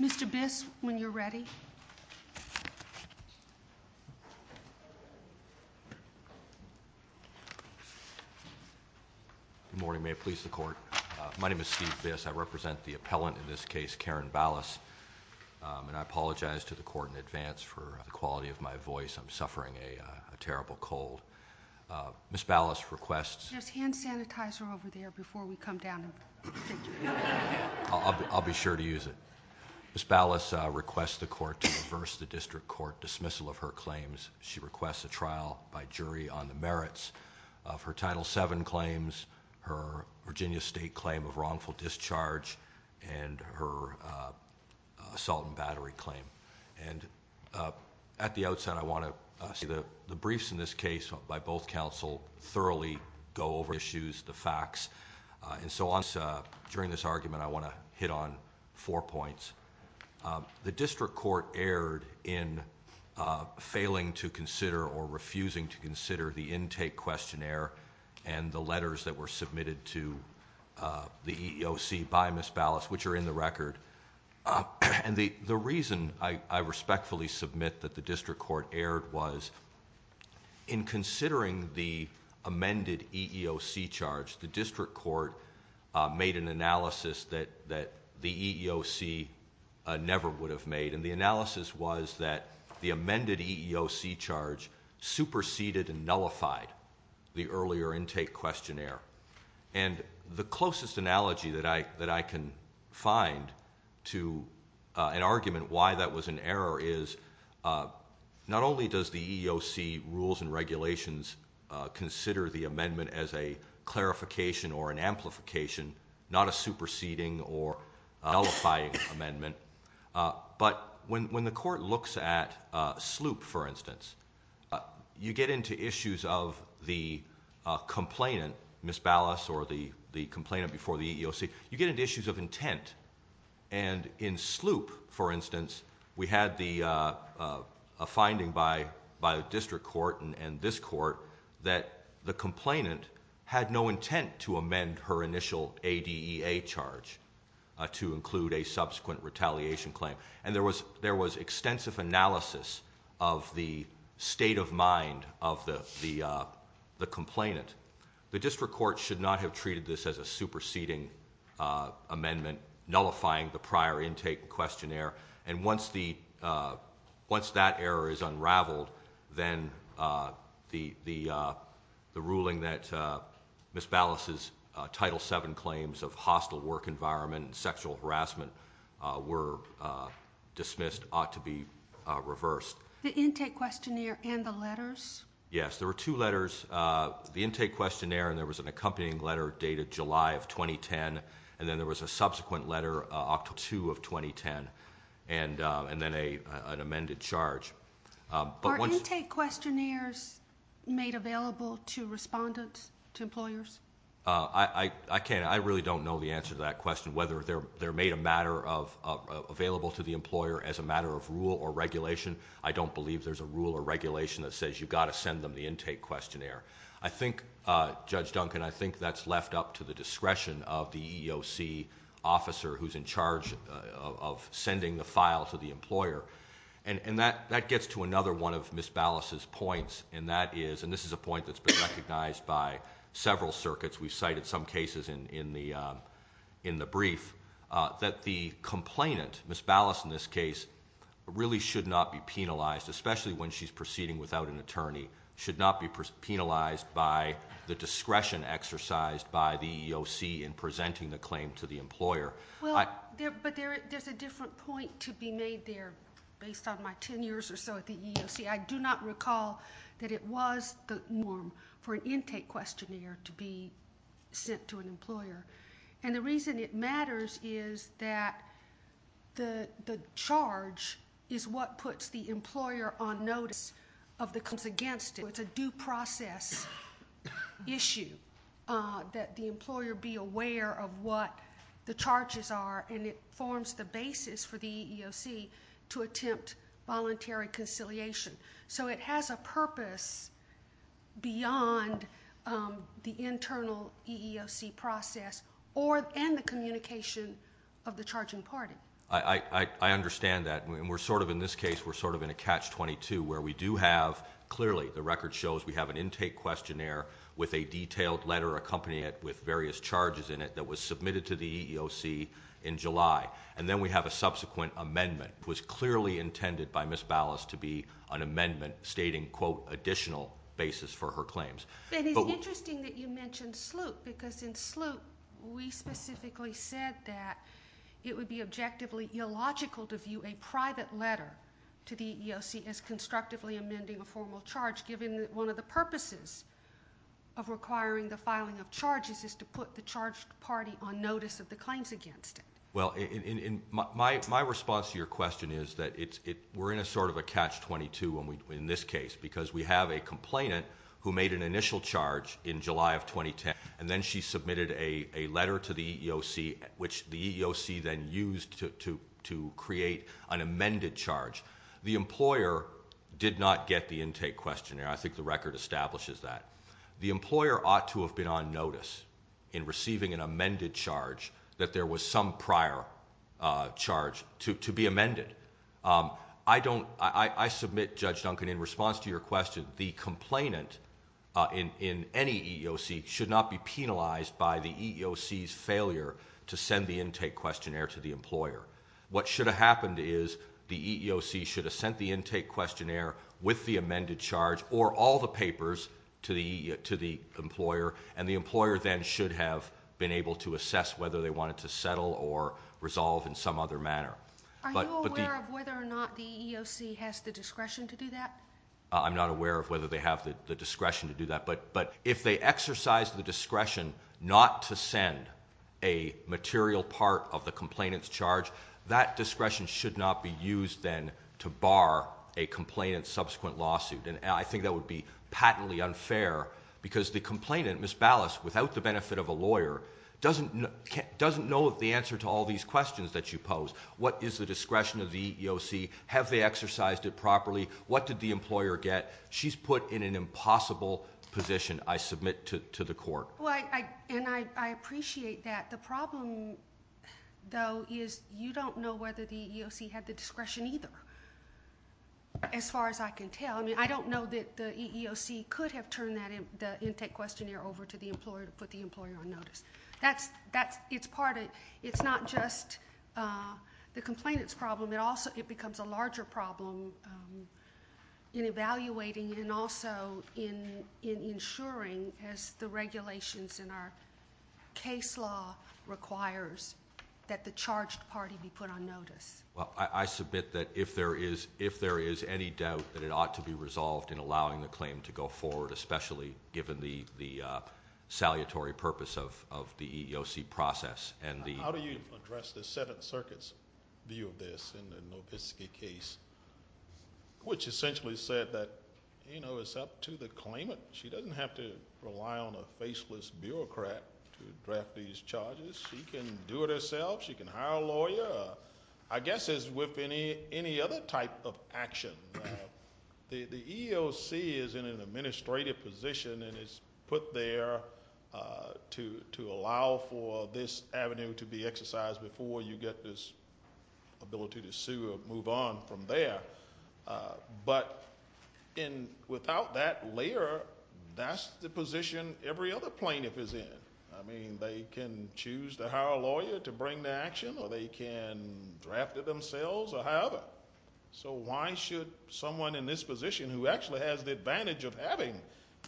Mr. Biss, when you're ready. Good morning. May it please the Court. My name is Steve Biss. I represent the appellant in this case, Karen Balas. And I apologize to the Court in advance for the quality of my voice. I'm suffering a terrible cold. Ms. Balas requests... There's hand sanitizer over there before we come down. I'll be sure to use it. Ms. Balas requests the Court to reverse the District Court dismissal of her claims. She requests a trial by jury on the merits of her Title VII claims, her Virginia State claim of wrongful discharge, and her assault and battery claim. And at the outset, I want to say that the briefs in this case by both counsel thoroughly go over the issues, the facts, and so on. During this argument, I want to hit on four points. The District Court erred in failing to consider or refusing to consider the intake questionnaire and the letters that were submitted to the EEOC by Ms. Balas, which are in the record. And the reason I respectfully submit that the District Court erred was in considering the amended EEOC charge, the District Court made an analysis that the EEOC never would have made, and the analysis was that the amended EEOC charge superseded and nullified the earlier intake questionnaire. And the closest analogy that I can find to an argument why that was an error is not only does the EEOC rules and regulations consider the amendment as a clarification or an amplification, not a superseding or nullifying amendment, but when the court looks at SLOOP, for instance, you get into issues of the complainant, Ms. Balas or the complainant before the EEOC, you get into issues of intent. And in SLOOP, for instance, we had a finding by the District Court and this court that the complainant had no intent to amend her initial ADEA charge to include a subsequent retaliation claim. And there was extensive analysis of the state of mind of the complainant. The District Court should not have treated this as a superseding amendment nullifying the prior intake questionnaire. And once that error is unraveled, then the ruling that Ms. Balas' Title VII claims of hostile work environment and sexual harassment were dismissed ought to be reversed. The intake questionnaire and the letters? Yes. There were two letters. There was the intake questionnaire and there was an accompanying letter dated July of 2010. And then there was a subsequent letter, October 2 of 2010, and then an amended charge. Are intake questionnaires made available to respondents, to employers? I can't. I really don't know the answer to that question, whether they're made available to the employer as a matter of rule or regulation. I don't believe there's a rule or regulation that says you've got to send them the intake questionnaire. I think, Judge Duncan, I think that's left up to the discretion of the EEOC officer who's in charge of sending the file to the employer. And that gets to another one of Ms. Balas' points, and that is, and this is a point that's been recognized by several circuits. We've cited some cases in the brief that the complainant, Ms. Balas in this case, really should not be penalized, especially when she's proceeding without an attorney, should not be penalized by the discretion exercised by the EEOC in presenting the claim to the employer. Well, but there's a different point to be made there based on my 10 years or so at the EEOC. I do not recall that it was the norm for an intake questionnaire to be sent to an employer. And the reason it matters is that the charge is what puts the employer on notice of the claims against it. So it's a due process issue that the employer be aware of what the charges are, and it forms the basis for the EEOC to attempt voluntary conciliation. So it has a purpose beyond the internal EEOC process and the communication of the charging party. I understand that. And we're sort of, in this case, we're sort of in a catch-22 where we do have, clearly, the record shows we have an intake questionnaire with a detailed letter accompanying it with various charges in it that was submitted to the EEOC in July. And then we have a subsequent amendment. It was clearly intended by Ms. Balas to be an amendment stating, quote, additional basis for her claims. But it's interesting that you mentioned SLUIP because in SLUIP, we specifically said that it would be objectively illogical to view a private letter to the EEOC as constructively amending a formal charge, given that one of the purposes of requiring the filing of charges is to put the charged party on notice of the claims against it. Well, my response to your question is that we're in a sort of a catch-22 in this case because we have a complainant who made an initial charge in July of 2010, and then she submitted a letter to the EEOC, which the EEOC then used to create an amended charge. The employer did not get the intake questionnaire. I think the record establishes that. The employer ought to have been on notice in receiving an amended charge that there was some prior charge to be amended. I submit, Judge Duncan, in response to your question, the complainant in any EEOC should not be penalized by the EEOC's failure to send the intake questionnaire to the employer. What should have happened is the EEOC should have sent the intake questionnaire with the amended charge or all the papers to the employer, and the employer then should have been able to assess whether they wanted to settle or resolve in some other manner. Are you aware of whether or not the EEOC has the discretion to do that? I'm not aware of whether they have the discretion to do that, but if they exercise the discretion not to send a material part of the complainant's charge, that discretion should not be used then to bar a complainant's subsequent lawsuit, and I think that would be patently unfair because the complainant, Ms. Ballas, without the benefit of a lawyer, doesn't know the answer to all these questions that you pose. What is the discretion of the EEOC? Have they exercised it properly? What did the employer get? She's put in an impossible position, I submit to the court. Well, and I appreciate that. The problem, though, is you don't know whether the EEOC had the discretion either, as far as I can tell. I mean, I don't know that the EEOC could have turned the intake questionnaire over to the employer to put the employer on notice. It's not just the complainant's problem. It also becomes a larger problem in evaluating and also in ensuring, as the regulations in our case law requires, that the charged party be put on notice. Well, I submit that if there is any doubt that it ought to be resolved in allowing the claim to go forward, especially given the salutary purpose of the EEOC process. How do you address the Seventh Circuit's view of this in the Novitski case, which essentially said that, you know, it's up to the claimant. She doesn't have to rely on a faceless bureaucrat to draft these charges. She can do it herself. She can hire a lawyer. I guess as with any other type of action, the EEOC is in an administrative position and is put there to allow for this avenue to be exercised before you get this ability to sue or move on from there. But without that layer, that's the position every other plaintiff is in. I mean, they can choose to hire a lawyer to bring the action or they can draft it themselves or however. So why should someone in this position who actually has the advantage of having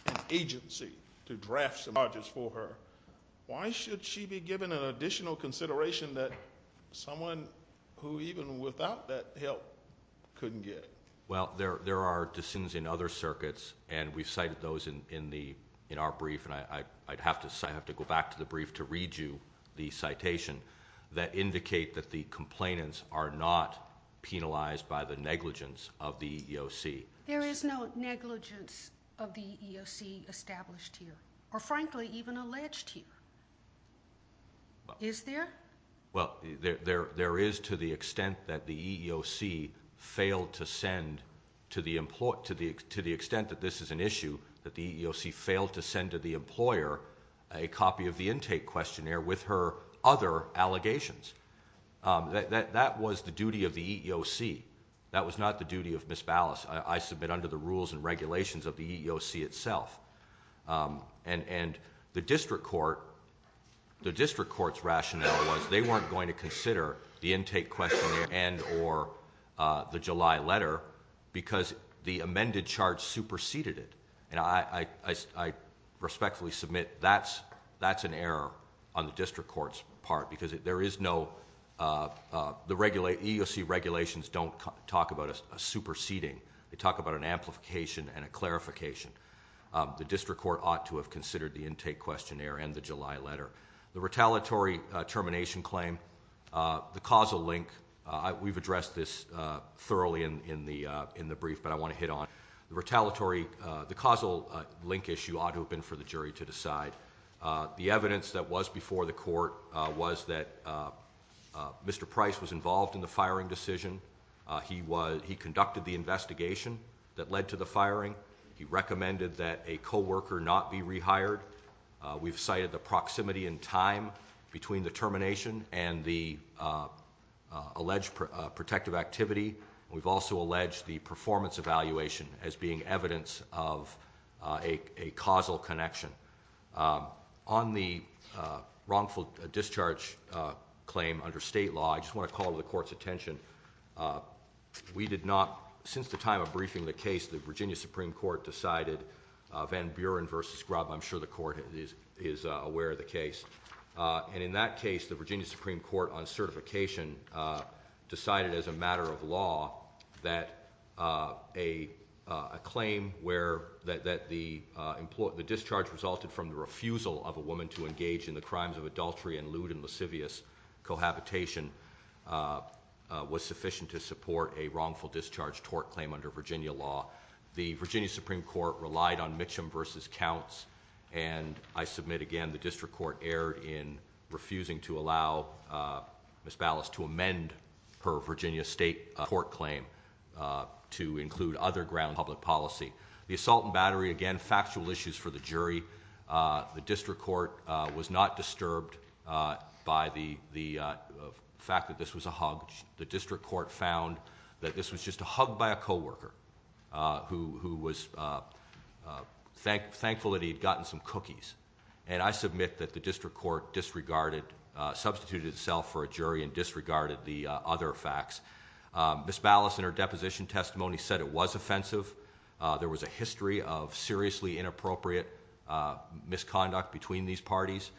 an agency to draft some charges for her, why should she be given an additional consideration that someone who even without that help couldn't get? Well, there are dissenters in other circuits, and we've cited those in our brief, and I'd have to go back to the brief to read you the citation, that indicate that the complainants are not penalized by the negligence of the EEOC. There is no negligence of the EEOC established here or, frankly, even alleged here. Is there? Well, there is to the extent that the EEOC failed to send to the extent that this is an issue, that the EEOC failed to send to the employer a copy of the intake questionnaire with her other allegations. That was the duty of the EEOC. That was not the duty of Ms. Ballas, I submit, under the rules and regulations of the EEOC itself. And the district court's rationale was they weren't going to consider the intake questionnaire and or the July letter because the amended charge superseded it. And I respectfully submit that's an error on the district court's part because there is no – the EEOC regulations don't talk about a superseding. They talk about an amplification and a clarification. The district court ought to have considered the intake questionnaire and the July letter. The retaliatory termination claim, the causal link, we've addressed this thoroughly in the brief, but I want to hit on it. The retaliatory – the causal link issue ought to have been for the jury to decide. The evidence that was before the court was that Mr. Price was involved in the firing decision. He conducted the investigation that led to the firing. He recommended that a co-worker not be rehired. We've cited the proximity in time between the termination and the alleged protective activity. We've also alleged the performance evaluation as being evidence of a causal connection. On the wrongful discharge claim under state law, I just want to call to the court's attention, we did not – the Virginia Supreme Court is aware of the case. And in that case, the Virginia Supreme Court on certification decided as a matter of law that a claim where – that the discharge resulted from the refusal of a woman to engage in the crimes of adultery and lewd and lascivious cohabitation was sufficient to support a wrongful discharge tort claim under Virginia law. The Virginia Supreme Court relied on Mitchum versus Counts, and I submit again, the district court erred in refusing to allow Ms. Ballas to amend her Virginia state tort claim to include other ground public policy. The assault and battery, again, factual issues for the jury. The district court was not disturbed by the fact that this was a hug. The district court found that this was just a hug by a coworker who was thankful that he had gotten some cookies. And I submit that the district court disregarded – substituted itself for a jury and disregarded the other facts. Ms. Ballas, in her deposition testimony, said it was offensive. There was a history of seriously inappropriate misconduct between these parties.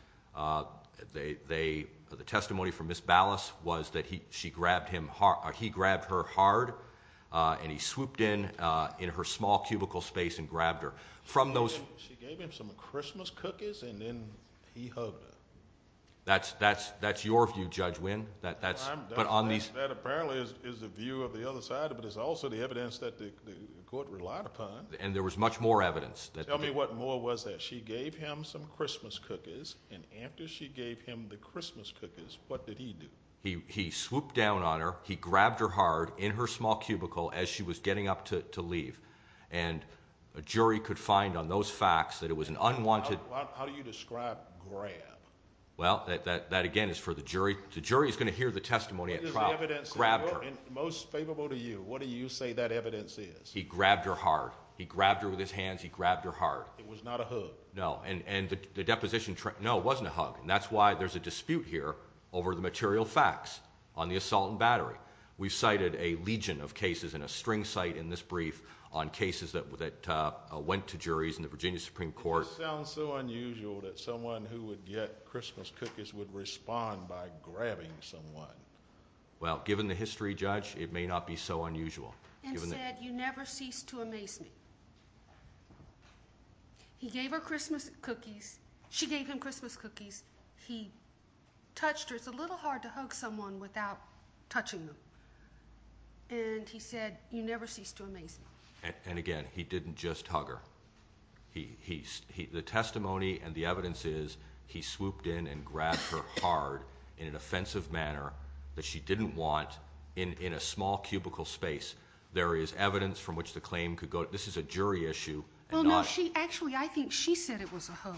They – the testimony from Ms. Ballas was that she grabbed him – he grabbed her hard, and he swooped in in her small cubicle space and grabbed her. From those – She gave him some Christmas cookies and then he hugged her. That's your view, Judge Wynn. That's – That apparently is the view of the other side, but it's also the evidence that the court relied upon. And there was much more evidence. Tell me what more was there. She gave him some Christmas cookies, and after she gave him the Christmas cookies, what did he do? He swooped down on her. He grabbed her hard in her small cubicle as she was getting up to leave. And a jury could find on those facts that it was an unwanted – How do you describe grab? Well, that again is for the jury. The jury is going to hear the testimony at trial. What is the evidence? Grabbed her. And most favorable to you, what do you say that evidence is? He grabbed her hard. He grabbed her with his hands. He grabbed her hard. It was not a hug. No, and the deposition – no, it wasn't a hug. And that's why there's a dispute here over the material facts on the assault and battery. We've cited a legion of cases and a string cite in this brief on cases that went to juries in the Virginia Supreme Court. It sounds so unusual that someone who would get Christmas cookies would respond by grabbing someone. Well, given the history, Judge, it may not be so unusual. Instead, you never cease to amaze me. He gave her Christmas cookies. She gave him Christmas cookies. He touched her. It's a little hard to hug someone without touching them. And he said, you never cease to amaze me. And, again, he didn't just hug her. The testimony and the evidence is he swooped in and grabbed her hard in an offensive manner that she didn't want in a small cubicle space. There is evidence from which the claim could go – this is a jury issue. Well, no, she – actually, I think she said it was a hug.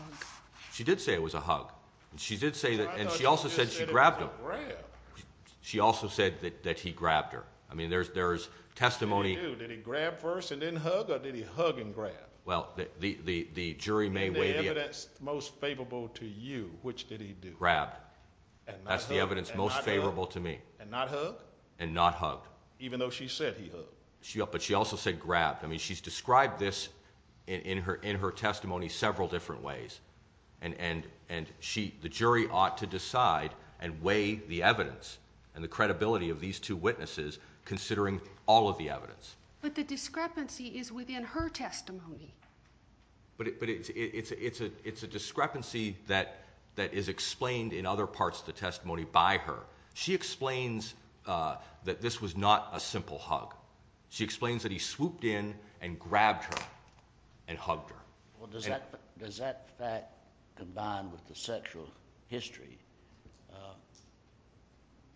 She did say it was a hug. And she did say that – and she also said she grabbed him. I thought she said it was a grab. She also said that he grabbed her. I mean, there's testimony – What did he do? Did he grab first and then hug, or did he hug and grab? Well, the jury may weigh the evidence. In the evidence most favorable to you, which did he do? Grab. And not hug? That's the evidence most favorable to me. And not hug? And not hug. Even though she said he hugged. But she also said grab. I mean, she's described this in her testimony several different ways. And the jury ought to decide and weigh the evidence and the credibility of these two witnesses considering all of the evidence. But the discrepancy is within her testimony. But it's a discrepancy that is explained in other parts of the testimony by her. She explains that this was not a simple hug. She explains that he swooped in and grabbed her and hugged her. Well, does that fact combined with the sexual history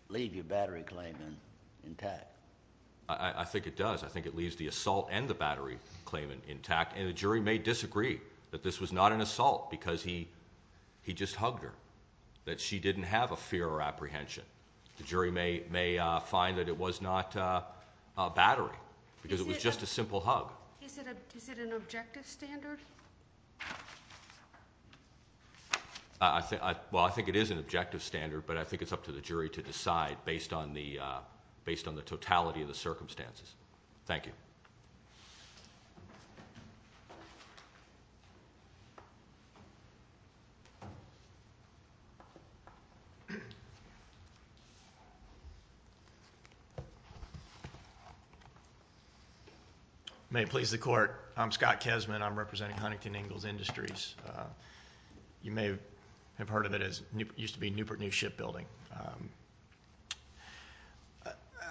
leave your battery claim intact? I think it does. I think it leaves the assault and the battery claim intact. And the jury may disagree that this was not an assault because he just hugged her, that she didn't have a fear or apprehension. The jury may find that it was not a battery because it was just a simple hug. Is it an objective standard? Well, I think it is an objective standard, but I think it's up to the jury to decide based on the totality of the circumstances. Thank you. May it please the court. I'm Scott Kesman. I'm representing Huntington Ingalls Industries. You may have heard of it. It used to be Newport News Shipbuilding.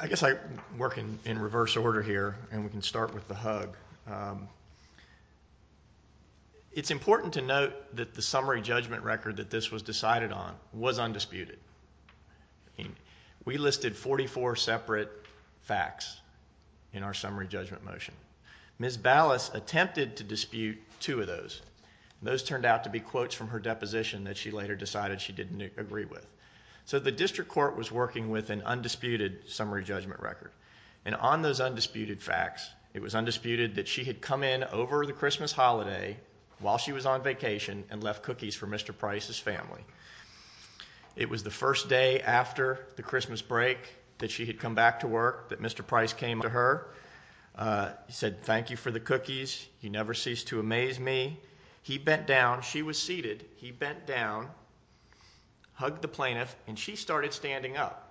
I guess I work in reverse order here, and we can start with the hug. All right. It's important to note that the summary judgment record that this was decided on was undisputed. We listed 44 separate facts in our summary judgment motion. Ms. Ballas attempted to dispute two of those. Those turned out to be quotes from her deposition that she later decided she didn't agree with. So the district court was working with an undisputed summary judgment record. And on those undisputed facts, it was undisputed that she had come in over the Christmas holiday while she was on vacation and left cookies for Mr. Price's family. It was the first day after the Christmas break that she had come back to work, that Mr. Price came to her, said thank you for the cookies. He never ceased to amaze me. He bent down. She was seated. He bent down, hugged the plaintiff, and she started standing up.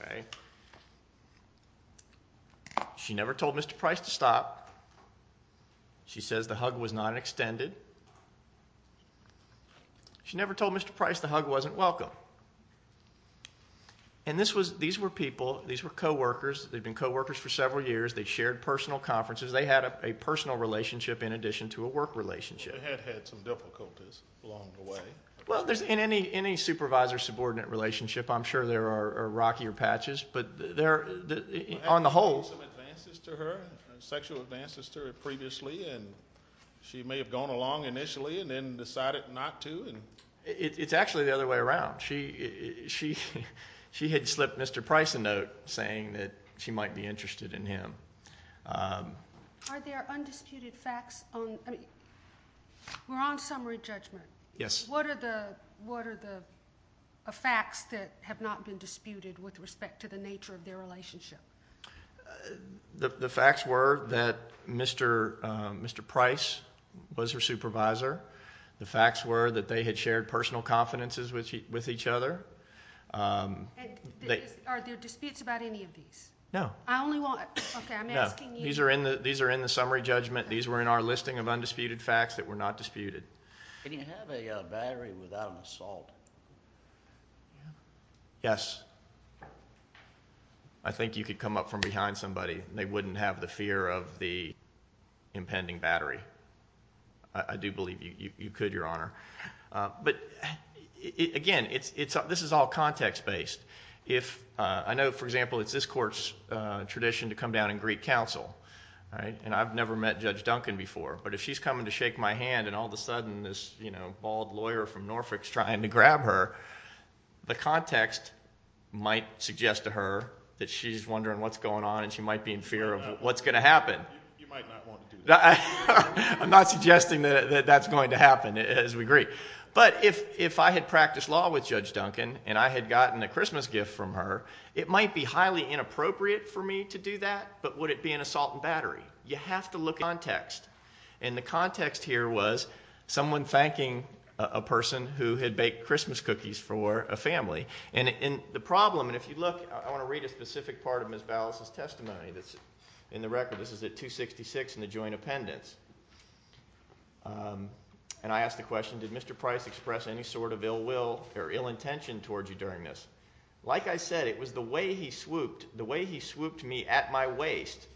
Okay. She never told Mr. Price to stop. She says the hug was not extended. She never told Mr. Price the hug wasn't welcome. And these were people, these were coworkers. They'd been coworkers for several years. They shared personal conferences. They had a personal relationship in addition to a work relationship. They had had some difficulties along the way. Well, in any supervisor-subordinate relationship, I'm sure there are rockier patches, but on the whole. Had there been some advances to her, sexual advances to her previously, and she may have gone along initially and then decided not to? It's actually the other way around. She had slipped Mr. Price a note saying that she might be interested in him. Are there undisputed facts on the wrong summary judgment? Yes. What are the facts that have not been disputed with respect to the nature of their relationship? The facts were that Mr. Price was her supervisor. The facts were that they had shared personal confidences with each other. Are there disputes about any of these? No. I only want, okay, I'm asking you. No. These are in the summary judgment. These were in our listing of undisputed facts that were not disputed. Can you have a battery without an assault? Yes. I think you could come up from behind somebody. They wouldn't have the fear of the impending battery. I do believe you could, Your Honor. But, again, this is all context-based. I know, for example, it's this court's tradition to come down and greet counsel. I've never met Judge Duncan before. But if she's coming to shake my hand and all of a sudden this bald lawyer from Norfolk is trying to grab her, the context might suggest to her that she's wondering what's going on and she might be in fear of what's going to happen. You might not want to do that. I'm not suggesting that that's going to happen, as we agree. But if I had practiced law with Judge Duncan and I had gotten a Christmas gift from her, it might be highly inappropriate for me to do that, but would it be an assault and battery? You have to look at context. And the context here was someone thanking a person who had baked Christmas cookies for a family. And the problem, and if you look, I want to read a specific part of Ms. Ballas' testimony that's in the record. This is at 266 in the Joint Appendix. And I asked the question, did Mr. Price express any sort of ill will or ill intention towards you during this? Like I said, it was the way he swooped me at my waist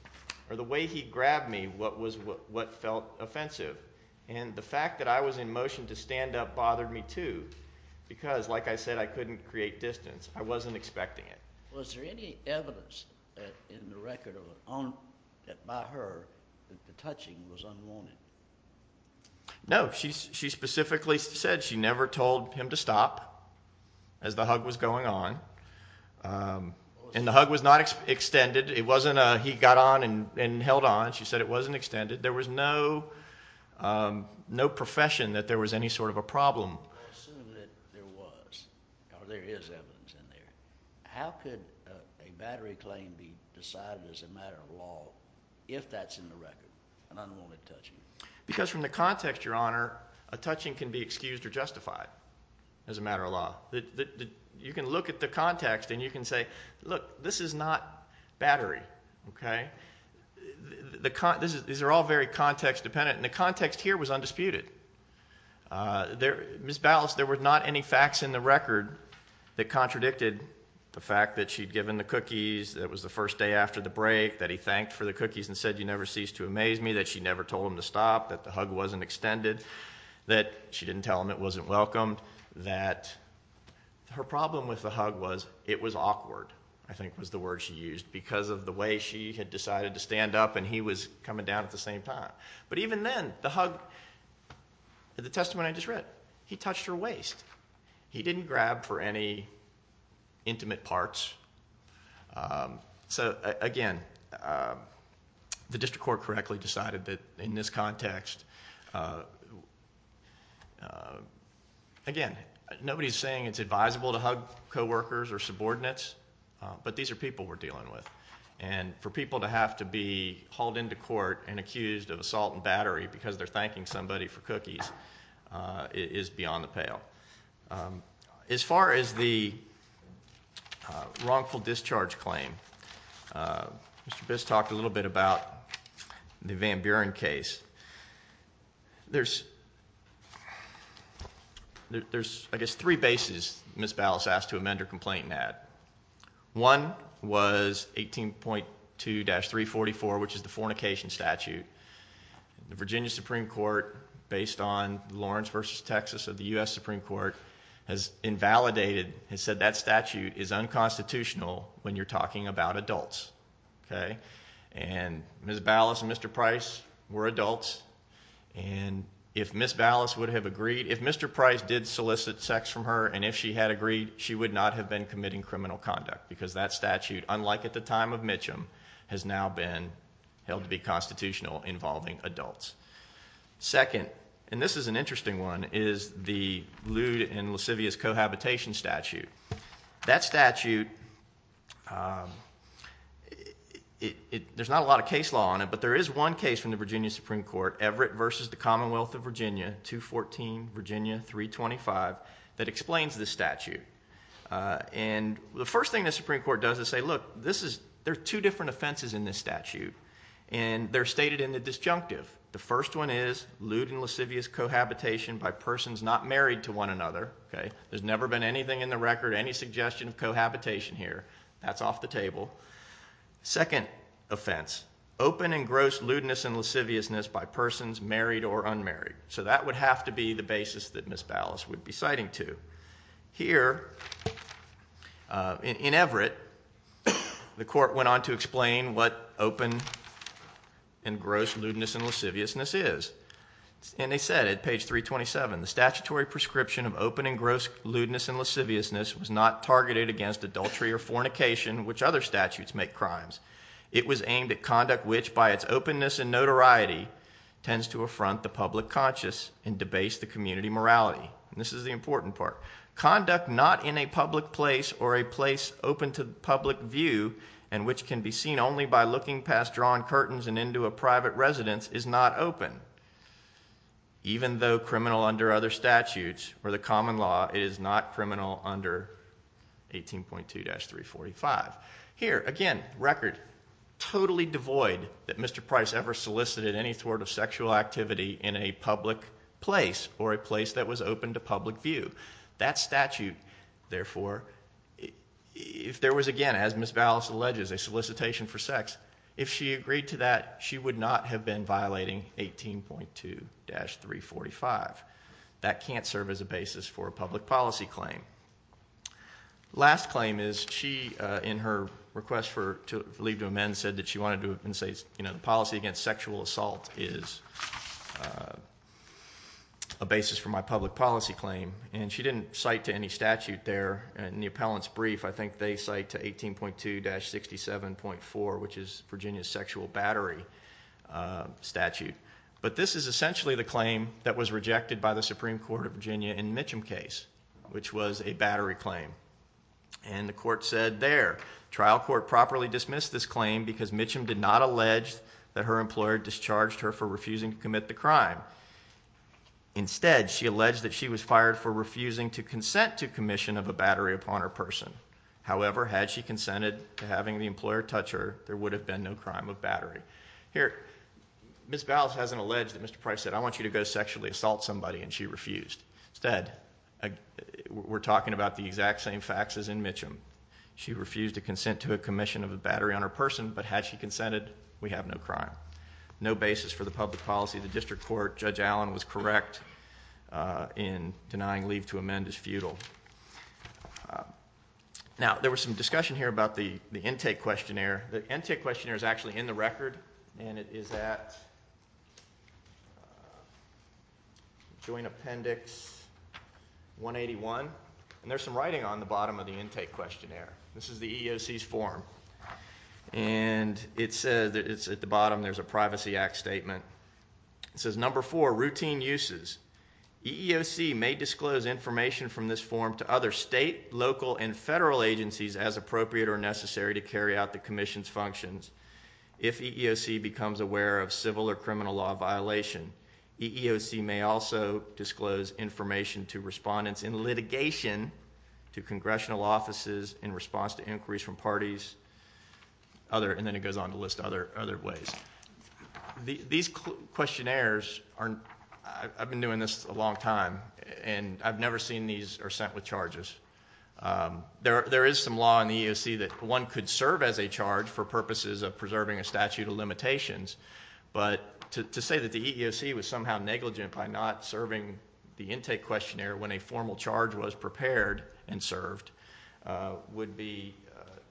or the way he grabbed me what felt offensive. And the fact that I was in motion to stand up bothered me too because, like I said, I couldn't create distance. I wasn't expecting it. Was there any evidence in the record by her that the touching was unwanted? No. She specifically said she never told him to stop as the hug was going on. And the hug was not extended. It wasn't a he got on and held on. She said it wasn't extended. There was no profession that there was any sort of a problem. I assume that there was or there is evidence in there. How could a battery claim be decided as a matter of law if that's in the record, an unwanted touching? Because from the context, Your Honor, a touching can be excused or justified as a matter of law. You can look at the context and you can say, look, this is not battery, OK? These are all very context dependent. And the context here was undisputed. Ms. Ballas, there were not any facts in the record that contradicted the fact that she'd given the cookies, that it was the first day after the break, that he thanked for the cookies and said you never cease to amaze me, that she never told him to stop, that the hug wasn't extended, that she didn't tell him it wasn't welcomed, that her problem with the hug was it was awkward, I think was the word she used, because of the way she had decided to stand up and he was coming down at the same time. But even then, the hug, the testimony I just read, he touched her waist. He didn't grab for any intimate parts. So, again, the district court correctly decided that in this context, again, nobody's saying it's advisable to hug coworkers or subordinates, but these are people we're dealing with. And for people to have to be hauled into court and accused of assault and battery because they're thanking somebody for cookies is beyond the pale. As far as the wrongful discharge claim, Mr. Biss talked a little bit about the Van Buren case. There's, I guess, three bases Ms. Ballas asked to amend her complaint and add. One was 18.2-344, which is the fornication statute. The Virginia Supreme Court, based on Lawrence v. Texas of the U.S. Supreme Court, has invalidated, has said that statute is unconstitutional when you're talking about adults. And Ms. Ballas and Mr. Price were adults, and if Ms. Ballas would have agreed, if Mr. Price did solicit sex from her and if she had agreed, she would not have been committing criminal conduct because that statute, unlike at the time of Mitcham, has now been held to be constitutional involving adults. Second, and this is an interesting one, is the lewd and lascivious cohabitation statute. That statute, there's not a lot of case law on it, but there is one case from the Virginia Supreme Court, Everett v. The Commonwealth of Virginia, 214 Virginia 325, that explains this statute. And the first thing the Supreme Court does is say, look, there are two different offenses in this statute. And they're stated in the disjunctive. The first one is lewd and lascivious cohabitation by persons not married to one another. There's never been anything in the record, any suggestion of cohabitation here. That's off the table. Second offense, open and gross lewdness and lasciviousness by persons married or unmarried. So that would have to be the basis that Ms. Ballas would be citing to. Here, in Everett, the court went on to explain what open and gross lewdness and lasciviousness is. And they said, at page 327, the statutory prescription of open and gross lewdness and lasciviousness was not targeted against adultery or fornication, which other statutes make crimes. It was aimed at conduct which, by its openness and notoriety, tends to affront the public conscious and debase the community morality. And this is the important part. Conduct not in a public place or a place open to public view and which can be seen only by looking past drawn curtains and into a private residence is not open. Even though criminal under other statutes or the common law, it is not criminal under 18.2-345. Here, again, record totally devoid that Mr. Price ever solicited any sort of sexual activity in a public place or a place that was open to public view. That statute, therefore, if there was again, as Ms. Ballas alleges, a solicitation for sex, if she agreed to that, she would not have been violating 18.2-345. That can't serve as a basis for a public policy claim. Last claim is she, in her request for leave to amend, said that she wanted to say, you know, the policy against sexual assault is a basis for my public policy claim. And she didn't cite to any statute there. In the appellant's brief, I think they cite to 18.2-67.4, which is Virginia's sexual battery statute. But this is essentially the claim that was rejected by the Supreme Court of Virginia in Mitchum's case, which was a battery claim. And the court said there, trial court properly dismissed this claim because Mitchum did not allege that her employer discharged her for refusing to commit the crime. Instead, she alleged that she was fired for refusing to consent to commission of a battery upon her person. However, had she consented to having the employer touch her, there would have been no crime of battery. Here, Ms. Ballas hasn't alleged that Mr. Price said, I want you to go sexually assault somebody, and she refused. Instead, we're talking about the exact same facts as in Mitchum. She refused to consent to a commission of a battery on her person, but had she consented, we have no crime. No basis for the public policy of the district court. Judge Allen was correct in denying leave to amend as futile. Now, there was some discussion here about the intake questionnaire. The intake questionnaire is actually in the record, and it is at Joint Appendix 181. And there's some writing on the bottom of the intake questionnaire. This is the EEOC's form. And it says, it's at the bottom, there's a Privacy Act statement. It says, number four, routine uses. EEOC may disclose information from this form to other state, local, and federal agencies as appropriate or necessary to carry out the commission's functions. If EEOC becomes aware of civil or criminal law violation, EEOC may also disclose information to respondents in litigation to congressional offices in response to inquiries from parties. And then it goes on to list other ways. These questionnaires, I've been doing this a long time, and I've never seen these sent with charges. There is some law in the EEOC that one could serve as a charge for purposes of preserving a statute of limitations. But to say that the EEOC was somehow negligent by not serving the intake questionnaire when a formal charge was prepared and served would be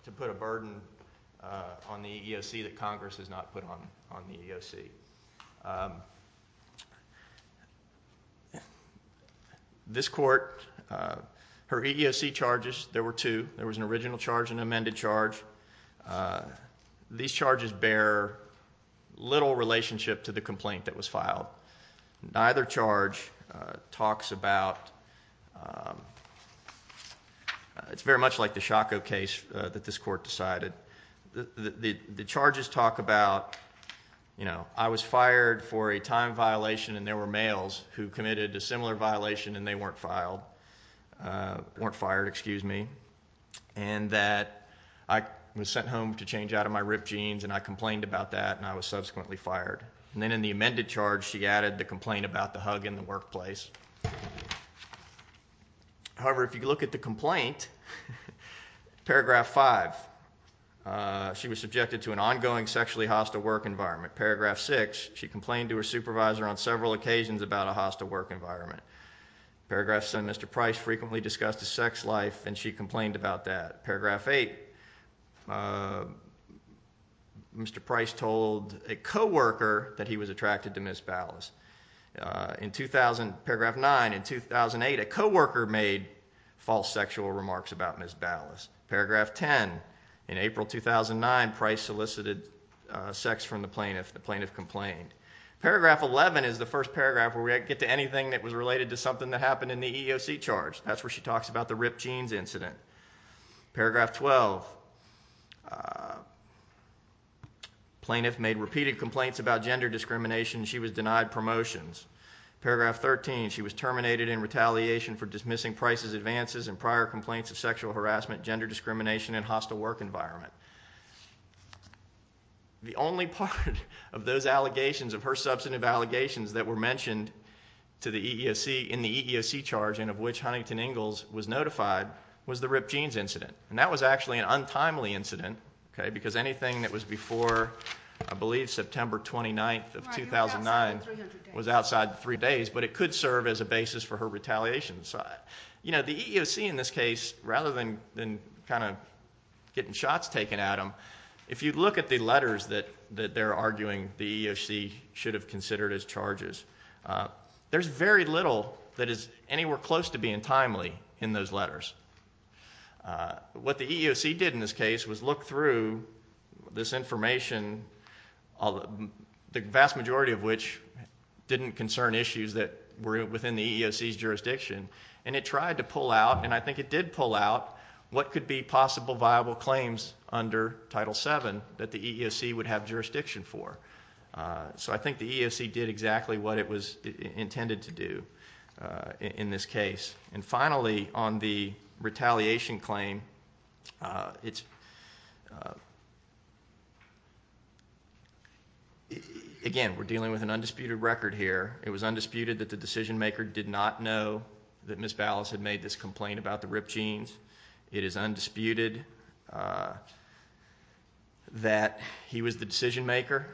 to put a burden on the EEOC that Congress has not put on the EEOC. This court, her EEOC charges, there were two. There was an original charge and an amended charge. These charges bear little relationship to the complaint that was filed. Neither charge talks about, it's very much like the Shocko case that this court decided. The charges talk about, I was fired for a time violation and there were males who committed a similar violation and they weren't fired. And that I was sent home to change out of my ripped jeans and I complained about that and I was subsequently fired. And then in the amended charge she added the complaint about the hug in the workplace. However, if you look at the complaint, paragraph five, she was subjected to an ongoing sexually hostile work environment. Paragraph six, she complained to her supervisor on several occasions about a hostile work environment. Paragraph seven, Mr. Price frequently discussed his sex life and she complained about that. Paragraph eight, Mr. Price told a co-worker that he was attracted to Ms. Ballas. In 2000, paragraph nine, in 2008, a co-worker made false sexual remarks about Ms. Ballas. Paragraph 10, in April 2009, Price solicited sex from the plaintiff. The plaintiff complained. Paragraph 11 is the first paragraph where we get to anything that was related to something that happened in the EEOC charge. That's where she talks about the ripped jeans incident. Paragraph 12, plaintiff made repeated complaints about gender discrimination and she was denied promotions. Paragraph 13, she was terminated in retaliation for dismissing Price's advances and prior complaints of sexual harassment, gender discrimination, and hostile work environment. The only part of those allegations of her substantive allegations that were mentioned to the EEOC in the EEOC charge, and of which Huntington Ingalls was notified, was the ripped jeans incident. That was actually an untimely incident because anything that was before, I believe, September 29th of 2009 was outside three days, but it could serve as a basis for her retaliation. The EEOC, in this case, rather than getting shots taken at them, if you look at the letters that they're arguing the EEOC should have considered as charges, there's very little that is anywhere close to being timely in those letters. What the EEOC did in this case was look through this information, the vast majority of which didn't concern issues that were within the EEOC's jurisdiction, and it tried to pull out, and I think it did pull out, what could be possible viable claims under Title VII that the EEOC would have jurisdiction for. So I think the EEOC did exactly what it was intended to do in this case. And finally, on the retaliation claim, again, we're dealing with an undisputed record here. It was undisputed that the decisionmaker did not know that Ms. Ballas had made this complaint about the ripped jeans. It is undisputed that he was the decisionmaker.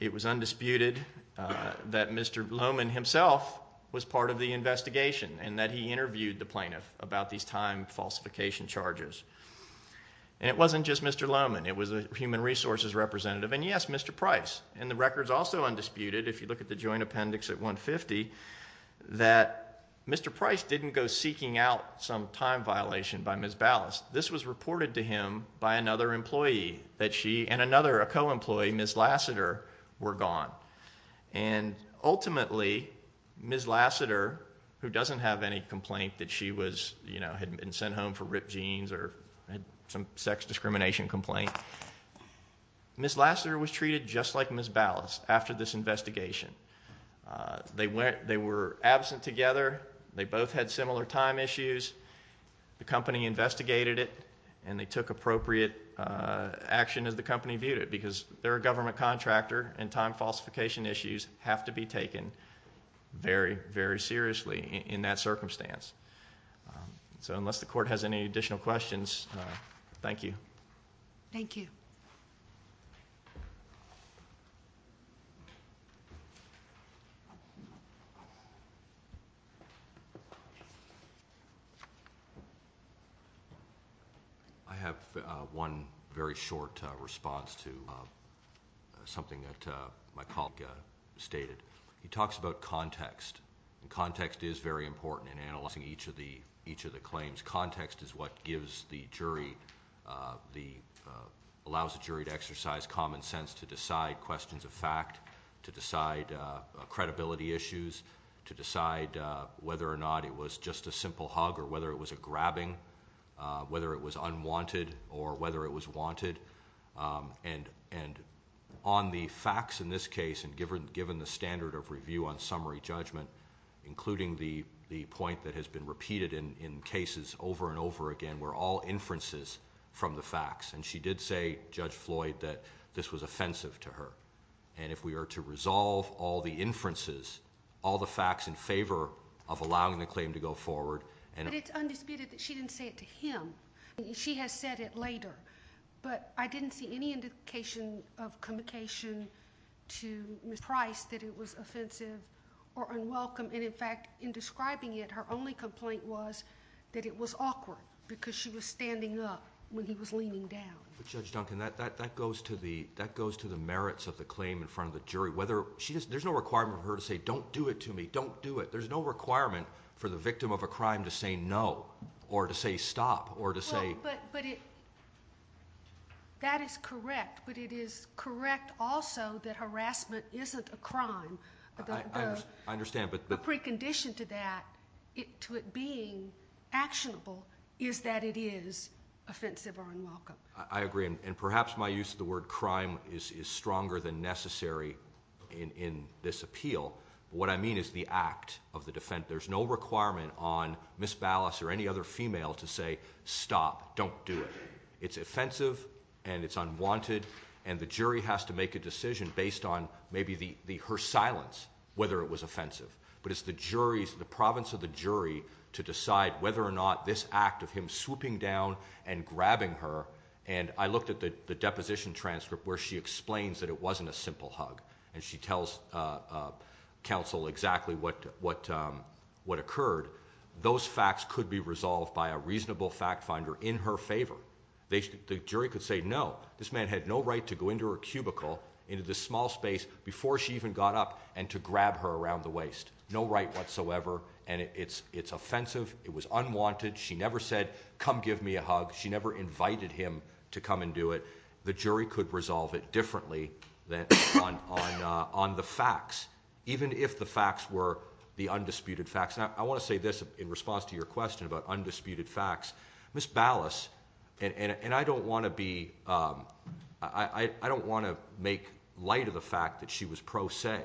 It was undisputed that Mr. Lohman himself was part of the investigation and that he interviewed the plaintiff about these time falsification charges. And it wasn't just Mr. Lohman, it was a human resources representative, and yes, Mr. Price. And the record's also undisputed, if you look at the joint appendix at 150, that Mr. Price didn't go seeking out some time violation by Ms. Ballas. This was reported to him by another employee that she, and another, a co-employee, Ms. Lassiter, were gone. And ultimately, Ms. Lassiter, who doesn't have any complaint that she was, you know, had been sent home for ripped jeans or had some sex discrimination complaint, Ms. Lassiter was treated just like Ms. Ballas after this investigation. They were absent together. They both had similar time issues. The company investigated it, and they took appropriate action as the company viewed it because they're a government contractor, and time falsification issues have to be taken very, very seriously in that circumstance. So unless the court has any additional questions, thank you. Thank you. I have one very short response to something that my colleague stated. He talks about context, and context is very important in analyzing each of the claims. Context is what gives the jury, allows the jury to exercise common sense to decide questions of fact, to decide credibility issues, to decide whether or not it was just a simple hug or whether it was a grabbing, whether it was unwanted or whether it was wanted. And on the facts in this case, and given the standard of review on summary judgment, including the point that has been repeated in cases over and over again, were all inferences from the facts. And she did say, Judge Floyd, that this was offensive to her. And if we are to resolve all the inferences, all the facts in favor of allowing the claim to go forward. But it's undisputed that she didn't say it to him. She has said it later. But I didn't see any indication of communication to Ms. Price that it was offensive or unwelcome. And in fact, in describing it, her only complaint was that it was awkward because she was standing up when he was leaning down. But Judge Duncan, that goes to the merits of the claim in front of the jury. There's no requirement for her to say, don't do it to me, don't do it. There's no requirement for the victim of a crime to say no or to say stop or to say. But that is correct. But it is correct also that harassment isn't a crime. I understand. But the precondition to that, to it being actionable, is that it is offensive or unwelcome. I agree. And perhaps my use of the word crime is stronger than necessary in this appeal. What I mean is the act of the defense. And there's no requirement on Ms. Ballas or any other female to say stop, don't do it. It's offensive and it's unwanted. And the jury has to make a decision based on maybe her silence, whether it was offensive. But it's the jury's, the province of the jury, to decide whether or not this act of him swooping down and grabbing her. And I looked at the deposition transcript where she explains that it wasn't a simple hug. And she tells counsel exactly what occurred. Those facts could be resolved by a reasonable fact finder in her favor. The jury could say, no, this man had no right to go into her cubicle, into this small space, before she even got up and to grab her around the waist. No right whatsoever. And it's offensive. It was unwanted. She never said, come give me a hug. She never invited him to come and do it. The jury could resolve it differently than on the facts, even if the facts were the undisputed facts. Now, I want to say this in response to your question about undisputed facts. Ms. Ballas, and I don't want to be, I don't want to make light of the fact that she was pro se.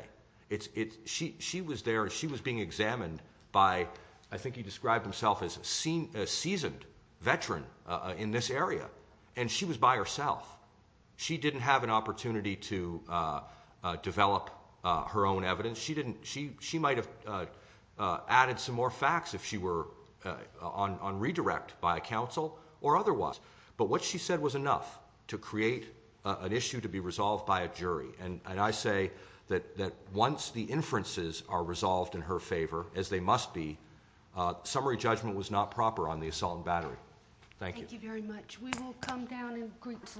She was there. She was being examined by, I think he described himself as a seasoned veteran in this area. And she was by herself. She didn't have an opportunity to develop her own evidence. She might have added some more facts if she were on redirect by a counsel or otherwise. But what she said was enough to create an issue to be resolved by a jury. And I say that once the inferences are resolved in her favor, as they must be, summary judgment was not proper on the assault and battery. Thank you. Thank you very much. We will come down in groups.